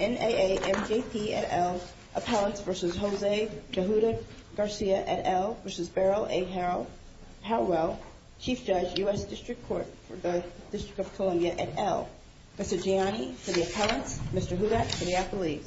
NAA MJP et al. Appellants v. Jose DeJuda Garcia et al. v. Beryl A Howell Chief Judge, U.S. Dist. Court for the Dist. of Columbia et al. Mr. Gianni for the Appellants, Mr. Huda for the Appellees.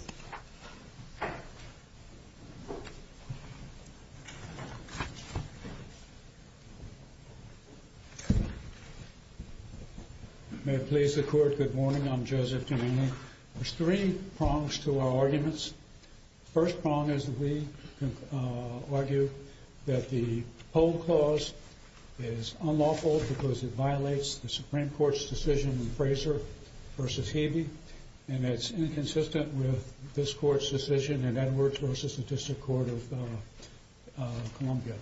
May it please the Court, good morning. I'm Joseph Gianni. There's three prongs to our arguments. The first prong is that we argue that the Poll Clause is unlawful because it violates the Supreme Court's decision in Fraser v. Hebe, and it's inconsistent with this Court's decision in Edwards v. Dist. of Columbia.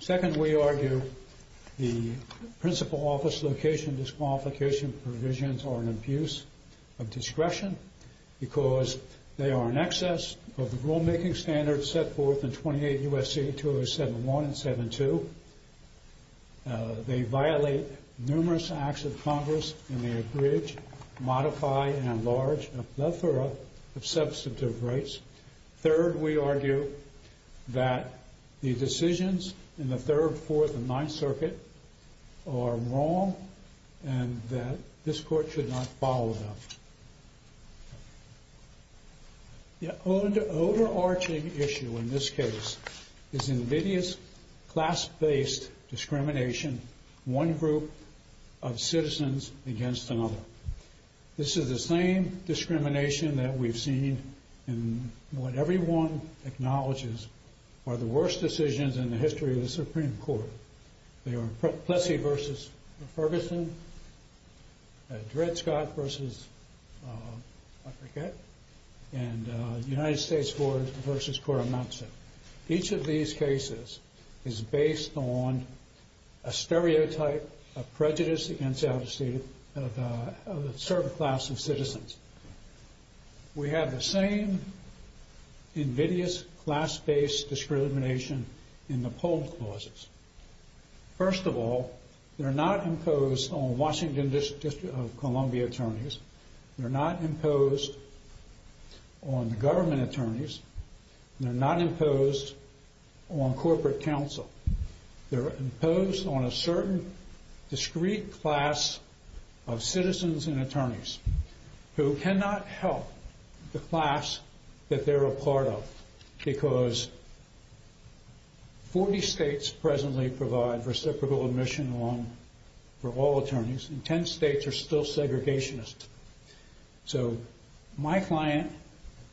Second, we argue the principal office location disqualification provisions are an abuse of discretion because they are in excess of the rulemaking standards set forth in 28 U.S.C. 2071 and 2072. They violate numerous acts of Congress in their abridged, modified, and enlarged plethora of substantive rights. Third, we argue that the decisions in the Third, Fourth, and Ninth Circuit are wrong and that this Court should not follow them. The overarching issue in this case is invidious class-based discrimination, one group of citizens against another. This is the same discrimination that we've seen in what everyone acknowledges are the worst decisions in the history of the Supreme Court. They were Plessy v. Ferguson, Dred Scott v. Lafayette, and United States v. Coramazzo. Each of these cases is based on a stereotype of prejudice against a certain class of citizens. We have the same invidious class-based discrimination in the poll clauses. First of all, they're not imposed on Washington District of Columbia attorneys. They're not imposed on the government attorneys. They're not imposed on corporate counsel. They're imposed on a certain discrete class of citizens and attorneys who cannot help the class that they're a part of because 40 states presently provide reciprocal admission for all attorneys, and 10 states are still segregationists. So my client,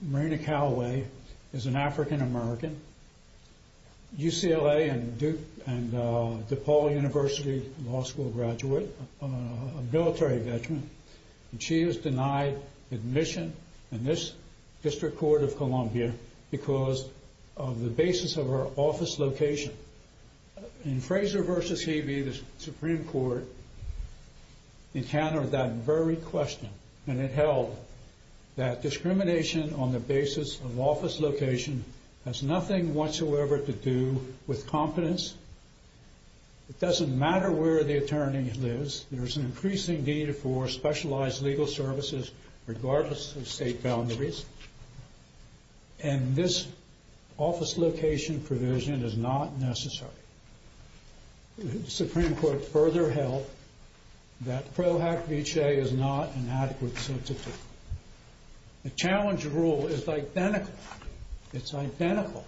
Marina Calaway, is an African American, UCLA and DePaul University Law School graduate, a military veteran, and she is denied admission in this District Court of Columbia because of the basis of her office location. In Fraser v. Hebe, the Supreme Court encountered that very question, and it held that discrimination on the basis of office location has nothing whatsoever to do with competence. It doesn't matter where the attorney lives. There's an increasing need for specialized legal services regardless of state boundaries, and this office location provision is not necessary. The Supreme Court further held that Pro Hac Vicee is not an adequate substitute. The challenge rule is identical. It's identical.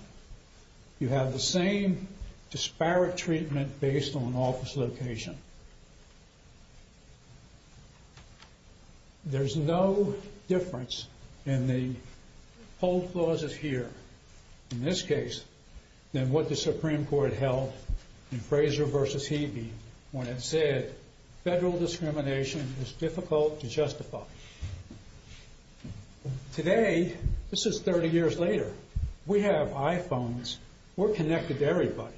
You have the same disparate treatment based on office location. There's no difference in the whole clauses here, in this case, than what the Supreme Court held in Fraser v. Hebe when it said federal discrimination is difficult to justify. Today, this is 30 years later, we have iPhones, we're connected to everybody.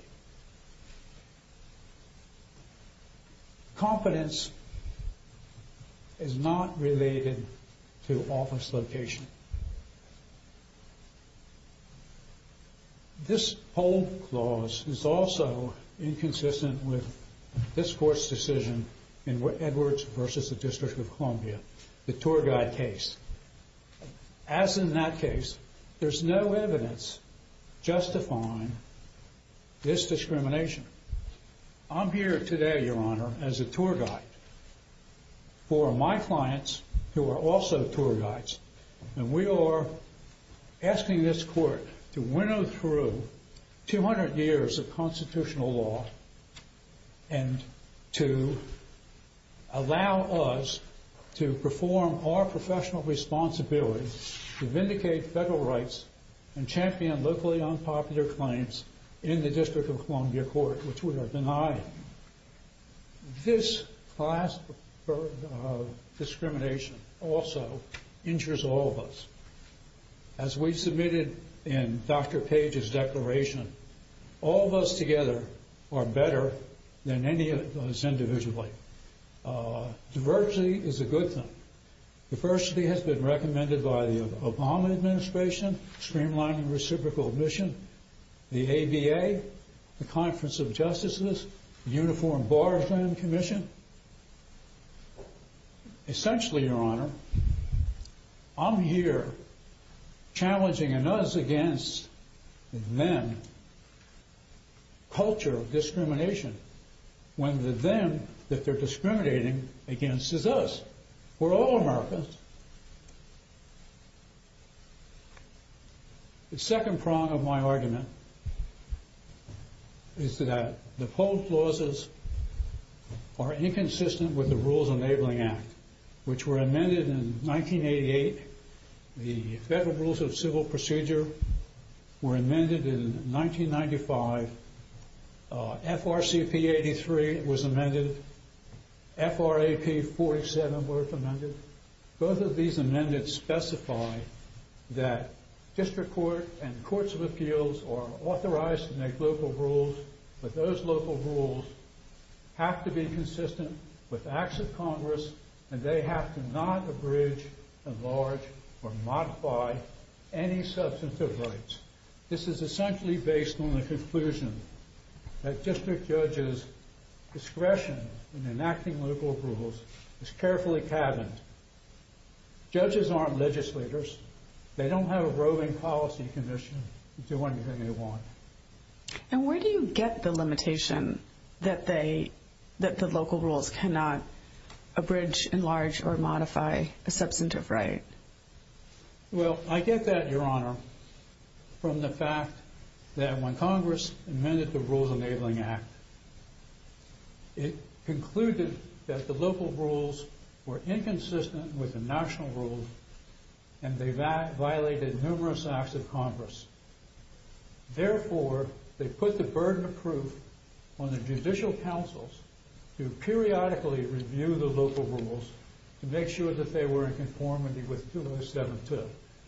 Competence is not related to office location. This whole clause is also inconsistent with this Court's decision in Edwards v. The District of Columbia, the tour guide case. As in that case, there's no evidence justifying this discrimination. I'm here today, Your Honor, as a tour guide for my clients who are also tour guides, and we are asking this Court to winnow through 200 years of constitutional law and to allow us to perform our professional responsibilities to vindicate federal rights and champion locally unpopular claims in the District of Columbia Court, which we are denying. This class of discrimination also injures all of us. As we submitted in Dr. Page's declaration, all of us together are better than any of us individually. Diversity is a good thing. Diversity has been recommended by the Obama Administration, Streamlining Reciprocal Admission, the ABA, the Conference of Justices, the Uniform Bargain Commission. Essentially, Your Honor, I'm here challenging an us-against-them culture of discrimination when the them that they're discriminating against is us. We're all Americans. The second prong of my argument is that the poll clauses are inconsistent with the Rules Enabling Act, which were amended in 1988. The Federal Rules of Civil Procedure were amended in 1995. FRCP 83 was amended. FRAP 47 was amended. Both of these amendments specify that District Court and Courts of Appeals are authorized to make local rules, but those local rules have to be consistent with Acts of Congress, and they have to not abridge, enlarge, or modify any substantive rights. This is essentially based on the conclusion that district judges' discretion in enacting local rules is carefully cabined. Judges aren't legislators. They don't have a roving policy commission to do anything they want. And where do you get the limitation that the local rules cannot abridge, enlarge, or modify a substantive right? Well, I get that, Your Honor, from the fact that when Congress amended the Rules Enabling Act, it concluded that the local rules were inconsistent with the national rules and they violated numerous Acts of Congress. Therefore, they put the burden of proof on the judicial counsels to periodically review the local rules to make sure that they were in conformity with 207-2.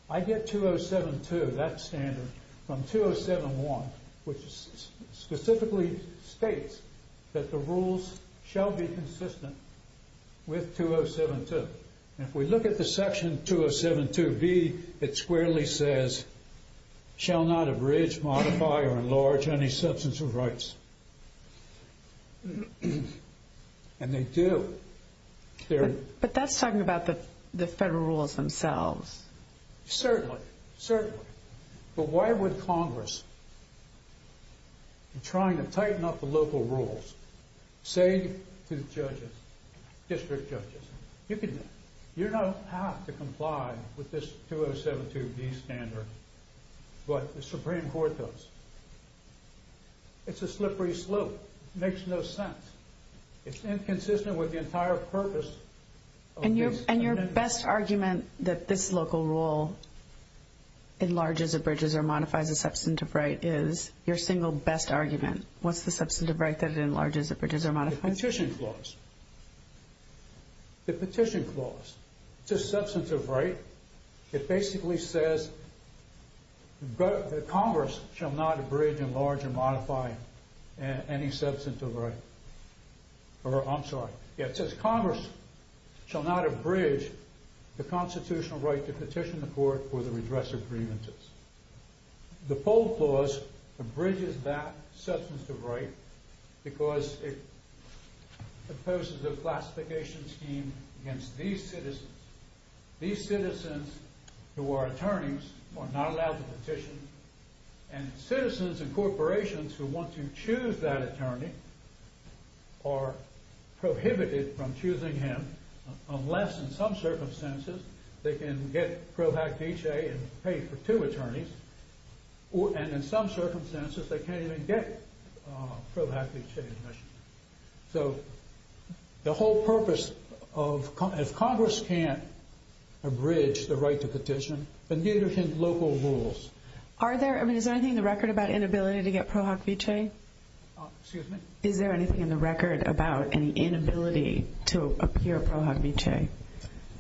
I get 207-2, that standard, from 207-1, which specifically states that the rules shall be consistent with 207-2. And if we look at the section 207-2b, it squarely says, shall not abridge, modify, or enlarge any substantive rights. And they do. But that's talking about the federal rules themselves. Certainly. Certainly. But why would Congress, in trying to tighten up the local rules, say to judges, district judges, you don't have to comply with this 207-2b standard, but the Supreme Court does. It's a slippery slope. It makes no sense. It's inconsistent with the entire purpose of this amendment. And your best argument that this local rule enlarges, abridges, or modifies a substantive right is, your single best argument, what's the substantive right that it enlarges, abridges, or modifies? The petition clause. The petition clause. It's a substantive right. It basically says that Congress shall not abridge, enlarge, or modify any substantive right. I'm sorry. It says Congress shall not abridge the constitutional right to petition the court for the redress of grievances. The poll clause abridges that substantive right because it imposes a classification scheme against these citizens. These citizens, who are attorneys, are not allowed to petition. And citizens and corporations who want to choose that attorney are prohibited from choosing him, unless, in some circumstances, they can get pro hac vice and pay for two attorneys. And in some circumstances, they can't even get pro hac vice admission. So the whole purpose of Congress can't abridge the right to petition, but neither can local rules. Is there anything in the record about inability to get pro hac vice? Excuse me? Is there anything in the record about any inability to appear pro hac vice?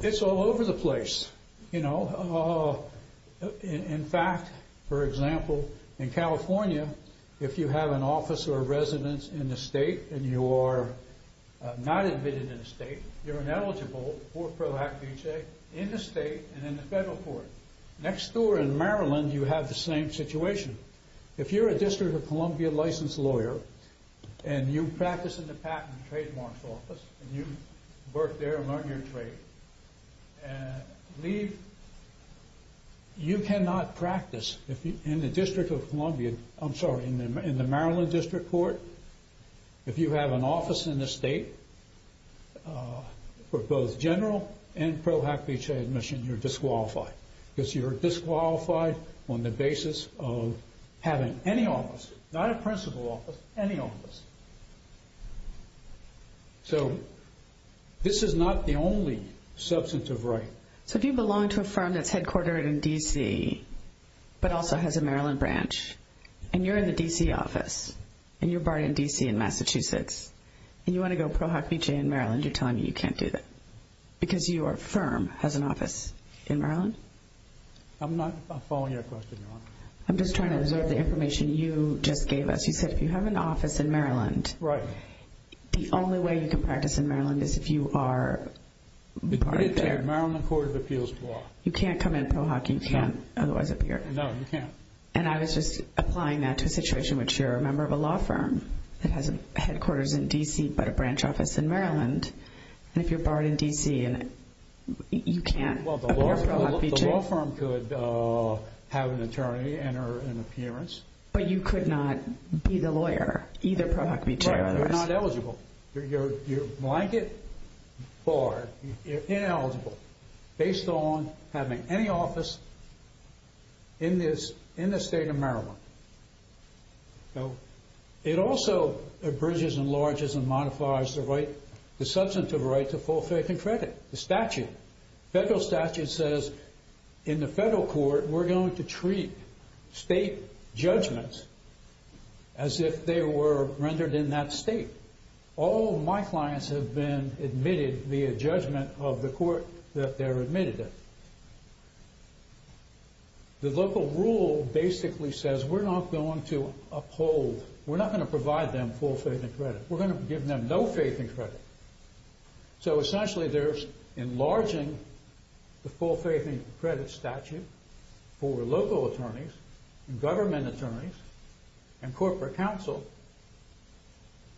It's all over the place. In fact, for example, in California, if you have an office or residence in the state and you are not admitted in the state, you're ineligible for pro hac vice in the state and in the federal court. Next door in Maryland, you have the same situation. If you're a District of Columbia licensed lawyer and you practice in the Patent and Trademarks Office and you work there and learn your trade and leave, you cannot practice in the District of Columbia. I'm sorry, in the Maryland District Court. If you have an office in the state for both general and pro hac vice admission, you're disqualified because you're disqualified on the basis of having any office, not a principal office, any office. So this is not the only substantive right. So if you belong to a firm that's headquartered in D.C. but also has a Maryland branch and you're in the D.C. office and you're barred in D.C. and Massachusetts and you want to go pro hac vice in Maryland, you're telling me you can't do that because your firm has an office in Maryland? I'm not following your question, Your Honor. I'm just trying to observe the information you just gave us. You said if you have an office in Maryland. Right. The only way you can practice in Maryland is if you are barred there. Maryland Court of Appeals law. You can't come in pro hac. You can't otherwise appear. No, you can't. And I was just applying that to a situation in which you're a member of a law firm that has a headquarters in D.C. but a branch office in Maryland. And if you're barred in D.C. and you can't appear pro hac. The law firm could have an attorney and or an appearance. But you could not be the lawyer either pro hac or pro vice. You're not eligible. You're blanket barred. You're ineligible based on having any office in the state of Maryland. It also bridges and enlarges and modifies the substantive right to full faith and credit, the statute. Federal statute says in the federal court we're going to treat state judgments as if they were rendered in that state. All my clients have been admitted via judgment of the court that they're admitted in. The local rule basically says we're not going to uphold. We're not going to provide them full faith and credit. We're going to give them no faith and credit. So essentially there's enlarging the full faith and credit statute for local attorneys and government attorneys and corporate counsel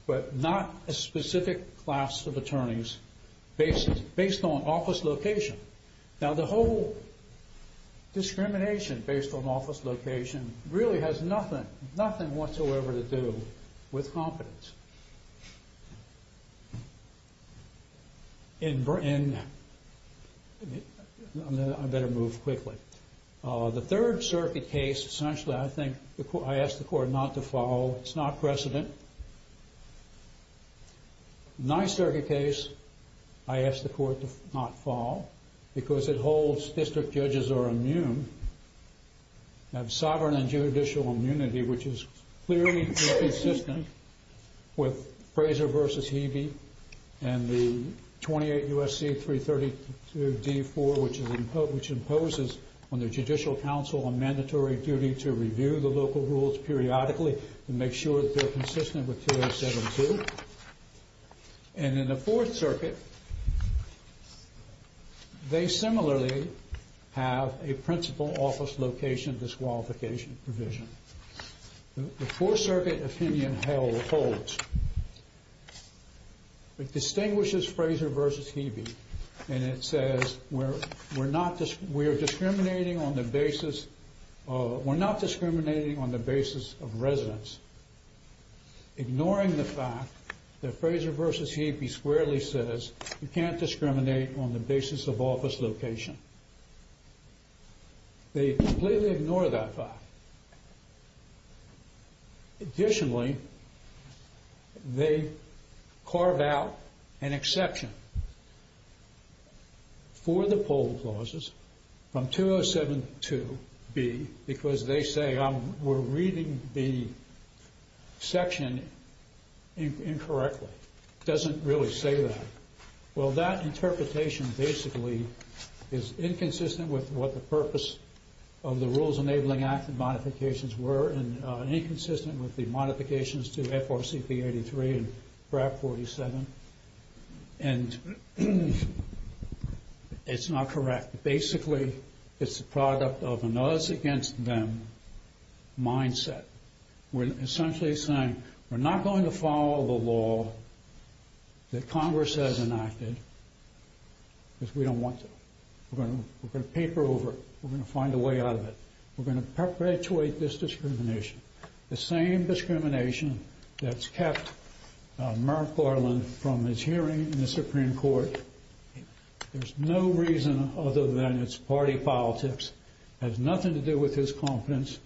but not a specific class of attorneys based on office location. Now the whole discrimination based on office location really has nothing whatsoever to do with competence. And I better move quickly. The third circuit case essentially I think I asked the court not to follow. It's not precedent. In my circuit case I asked the court to not follow because it holds district judges are immune, have sovereign and judicial immunity which is clearly inconsistent with Fraser v. Hebe and the 28 U.S.C. 332 D-4 which imposes on the judicial counsel a mandatory duty to review the local rules periodically to make sure that they're consistent with 2072. And in the fourth circuit they similarly have a principal office location disqualification provision. The fourth circuit opinion held holds. It distinguishes Fraser v. Hebe and it says we're not discriminating on the basis of residents ignoring the fact that Fraser v. Hebe squarely says you can't discriminate on the basis of office location. They completely ignore that fact. Additionally they carve out an exception for the poll clauses from 2072 B because they say we're reading the section incorrectly. It doesn't really say that. Well that interpretation basically is inconsistent with what the purpose of the Rules Enabling Act and modifications were and inconsistent with the modifications to FRCP 83 and BRAC 47. And it's not correct. Basically it's a product of an us against them mindset. We're essentially saying we're not going to follow the law that Congress has enacted because we don't want to. We're going to paper over it. We're going to find a way out of it. We're going to perpetuate this discrimination. The same discrimination that's kept Merrick Garland from his hearing in the Supreme Court. There's no reason other than it's party politics. It has nothing to do with his confidence.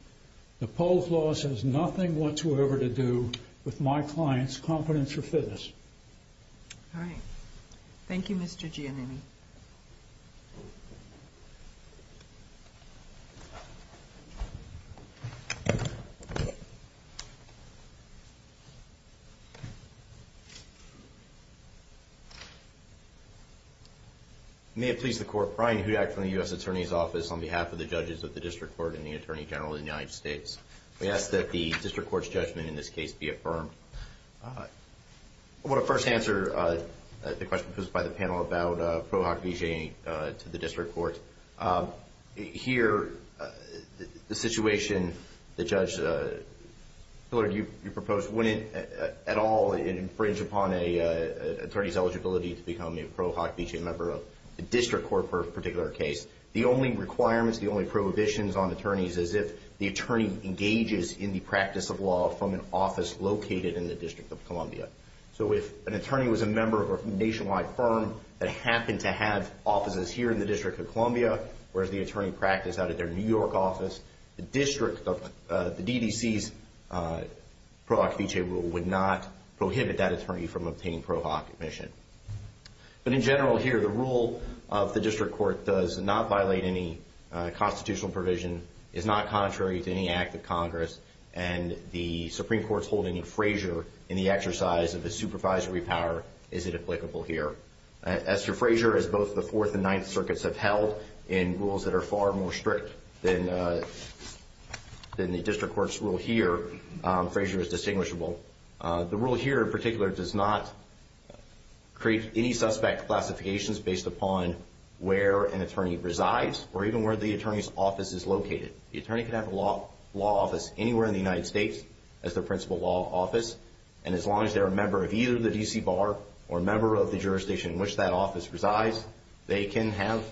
The poll clause has nothing whatsoever to do with my client's confidence or fitness. All right. Thank you, Mr. Giannini. May it please the Court, Brian Hudak from the U.S. Attorney's Office on behalf of the judges of the District Court and the Attorney General of the United States. We ask that the District Court's judgment in this case be affirmed. I want to first answer the question posed by the panel about pro hoc vijay to the District Court. Here, the situation that Judge Hillard, you proposed, wouldn't at all infringe upon an attorney's eligibility to become a pro hoc vijay member of the District Court for a particular case. The only requirements, the only prohibitions on attorneys is if the attorney engages in the practice of law from an office located in the District of Columbia. So if an attorney was a member of a nationwide firm that happened to have offices here in the District of Columbia, whereas the attorney practiced out at their New York office, the DDC's pro hoc vijay rule would not prohibit that attorney from obtaining pro hoc admission. But in general here, the rule of the District Court does not violate any constitutional provision, is not contrary to any act of Congress, and the Supreme Court's holding of Frazier in the exercise of his supervisory power isn't applicable here. As for Frazier, as both the Fourth and Ninth Circuits have held in rules that are far more strict than the District Court's rule here, Frazier is distinguishable. The rule here in particular does not create any suspect classifications based upon where an attorney resides or even where the attorney's office is located. The attorney can have a law office anywhere in the United States as their principal law office, and as long as they're a member of either the DC bar or a member of the jurisdiction in which that office resides, they can have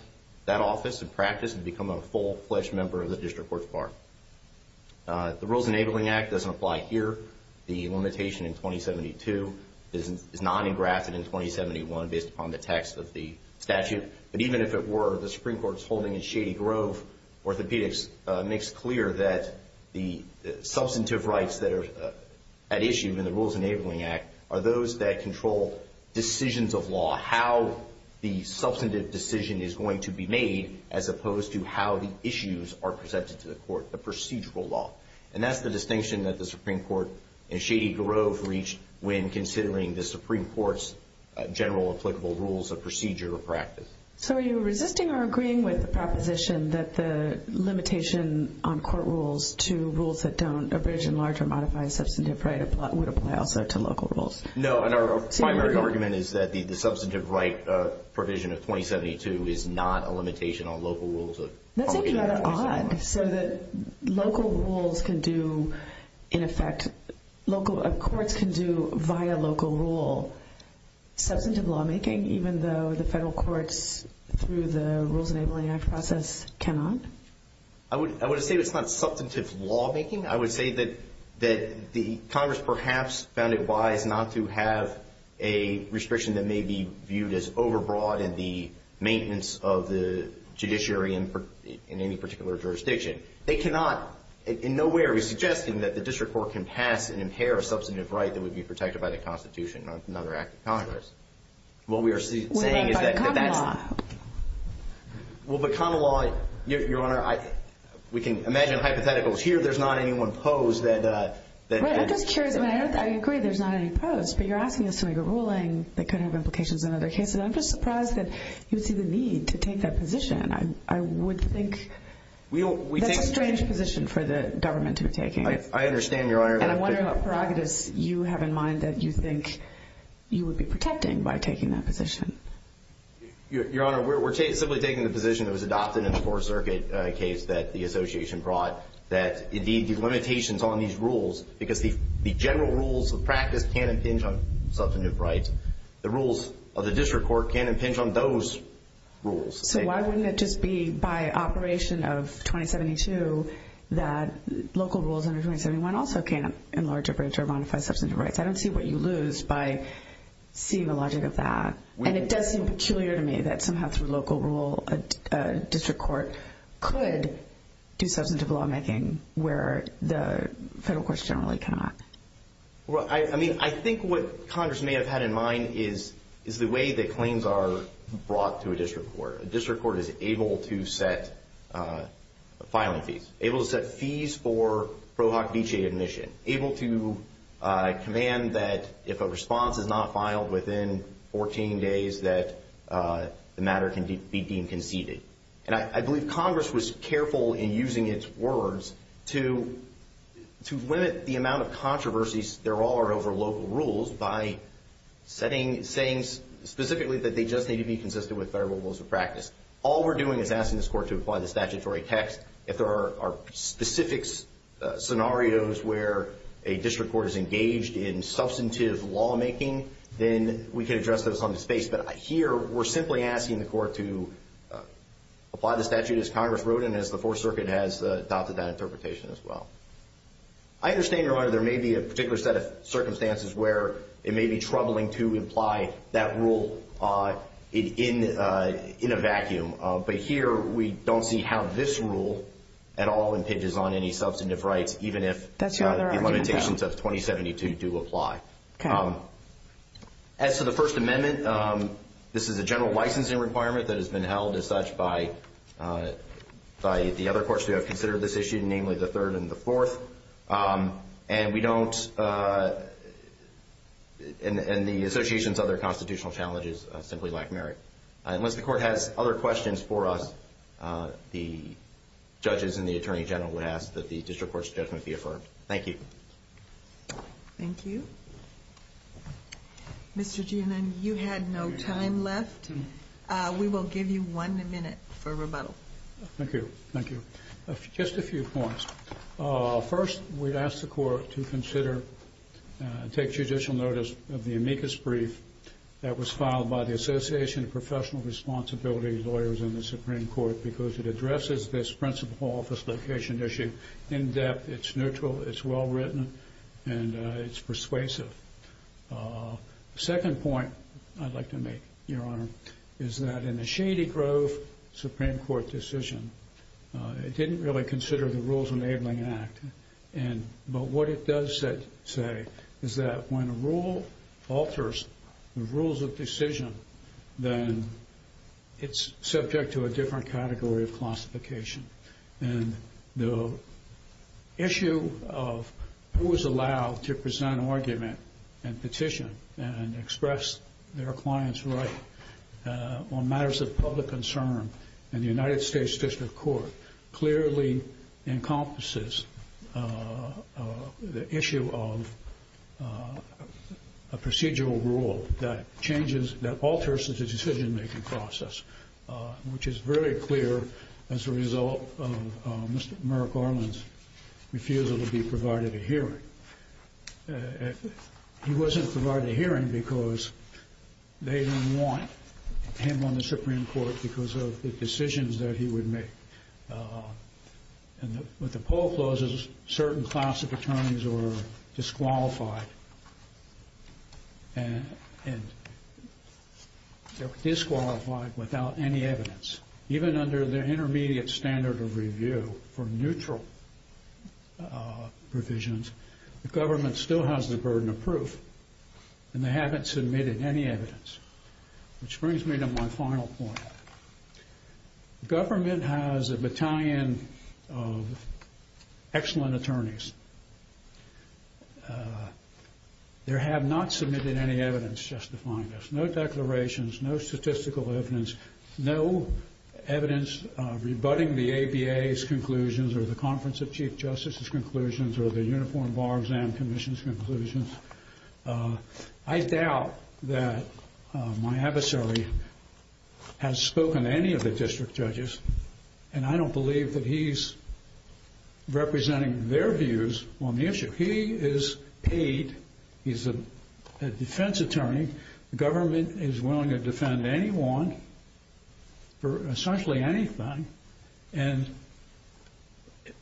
that office and practice and become a full-fledged member of the District Court's bar. The Rules Enabling Act doesn't apply here. The limitation in 2072 is not engrafted in 2071 based upon the text of the statute, but even if it were, the Supreme Court's holding in Shady Grove Orthopedics makes clear that the substantive rights that are at issue in the Rules Enabling Act are those that control decisions of law, how the substantive decision is going to be made as opposed to how the issues are presented to the court, the procedural law. And that's the distinction that the Supreme Court in Shady Grove reached when considering the Supreme Court's general applicable rules of procedure or practice. So are you resisting or agreeing with the proposition that the limitation on court rules to rules that don't abridge and large or modify substantive right would apply also to local rules? No, and our primary argument is that the substantive right provision of 2072 is not a limitation on local rules. That seems rather odd. So that local rules can do, in effect, local courts can do via local rule, substantive lawmaking even though the federal courts through the Rules Enabling Act process cannot? I would say it's not substantive lawmaking. I would say that Congress perhaps found it wise not to have a restriction that may be viewed as overbroad in the maintenance of the judiciary in any particular jurisdiction. They cannot in no way are we suggesting that the district court can pass and impair a substantive right that would be protected by the Constitution or another act of Congress. What we are saying is that that's not. Well, but common law. Well, but common law, Your Honor, we can imagine hypotheticals here. There's not any one pose that. Right, I'm just curious. I mean, I agree there's not any pose, but you're asking this to make a ruling that could have implications in other cases. And I'm just surprised that you see the need to take that position. I would think that's a strange position for the government to be taking. I understand, Your Honor. And I wonder what prerogatives you have in mind that you think you would be protecting by taking that position. Your Honor, we're simply taking the position that was adopted in the Fourth Circuit case that the association brought that the limitations on these rules, because the general rules of practice can impinge on substantive rights, the rules of the district court can impinge on those rules. So why wouldn't it just be by Operation of 2072 that local rules under 2071 also can't enlarge, abridge, or modify substantive rights? I don't see what you lose by seeing the logic of that. And it does seem peculiar to me that somehow through local rule, a district court could do substantive lawmaking where the federal courts generally cannot. Well, I mean, I think what Congress may have had in mind is the way that claims are brought to a district court. A district court is able to set filing fees, able to set fees for Pro Hoc Vitae admission, able to command that if a response is not filed within 14 days that the matter can be deemed conceded. And I believe Congress was careful in using its words to limit the amount of controversies there are over local rules by saying specifically that they just need to be consistent with federal rules of practice. All we're doing is asking this court to apply the statutory text. If there are specific scenarios where a district court is engaged in substantive lawmaking, then we can address those on the space. But here we're simply asking the court to apply the statute, as Congress wrote and as the Fourth Circuit has adopted that interpretation as well. I understand, Your Honor, there may be a particular set of circumstances where it may be troubling to apply that rule in a vacuum. But here we don't see how this rule at all impinges on any substantive rights, even if the limitations of 2072 do apply. As to the First Amendment, this is a general licensing requirement that has been held as such by the other courts who have considered this issue, namely the Third and the Fourth. And the Association's other constitutional challenges simply lack merit. Unless the court has other questions for us, the judges and the Attorney General would ask that the district court's judgment be affirmed. Thank you. Thank you. Mr. Gannon, you had no time left. We will give you one minute for rebuttal. Thank you. Thank you. Just a few points. First, we'd ask the court to consider and take judicial notice of the amicus brief that was filed by the Association of Professional Responsibility Lawyers in the Supreme Court because it addresses this principal office location issue in depth. It's neutral, it's well-written, and it's persuasive. The second point I'd like to make, Your Honor, is that in the Shady Grove Supreme Court decision, it didn't really consider the Rules Enabling Act. But what it does say is that when a rule alters the rules of decision, then it's subject to a different category of classification. And the issue of who is allowed to present an argument and petition and express their client's right on matters of public concern in the United States District Court clearly encompasses the issue of a procedural rule that alters the decision-making process, which is very clear as a result of Mr. Merrick Orleans' refusal to be provided a hearing. He wasn't provided a hearing because they didn't want him on the Supreme Court because of the decisions that he would make. And with the poll clauses, certain class of attorneys were disqualified. And they were disqualified without any evidence. Even under the intermediate standard of review for neutral provisions, the government still has the burden of proof, and they haven't submitted any evidence. Which brings me to my final point. The government has a battalion of excellent attorneys. They have not submitted any evidence justifying this. No declarations, no statistical evidence, no evidence rebutting the ABA's conclusions or the Conference of Chief Justices' conclusions or the Uniform Bar Exam Commission's conclusions. I doubt that my adversary has spoken to any of the district judges, and I don't believe that he's representing their views on the issue. He is paid. He's a defense attorney. The government is willing to defend anyone for essentially anything. And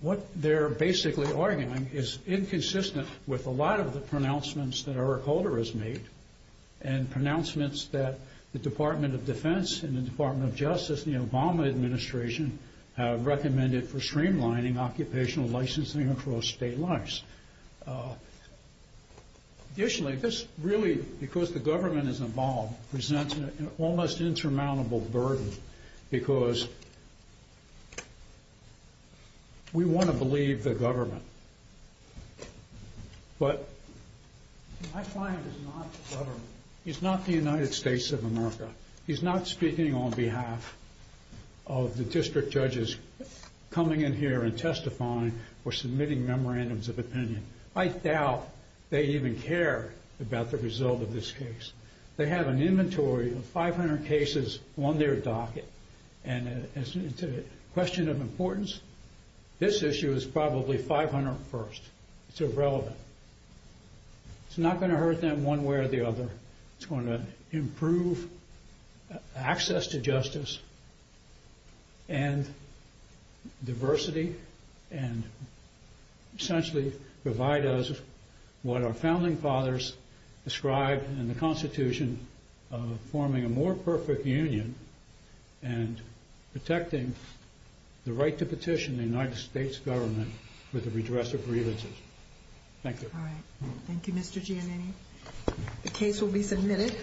what they're basically arguing is inconsistent with a lot of the pronouncements that Eric Holder has made and pronouncements that the Department of Defense and the Department of Justice and the Obama Administration have recommended for streamlining occupational licensing across state lines. Additionally, this really, because the government is involved, presents an almost insurmountable burden because we want to believe the government. But my client is not the government. He's not the United States of America. He's not speaking on behalf of the district judges coming in here and testifying or submitting memorandums of opinion. I doubt they even care about the result of this case. They have an inventory of 500 cases on their docket, and it's a question of importance. This issue is probably 500 first. It's irrelevant. It's not going to hurt them one way or the other. It's going to improve access to justice and diversity and essentially provide us what our founding fathers described in the Constitution of forming a more perfect union and protecting the right to petition the United States government for the redress of grievances. Thank you. All right. Thank you, Mr. Giannini. The case will be submitted.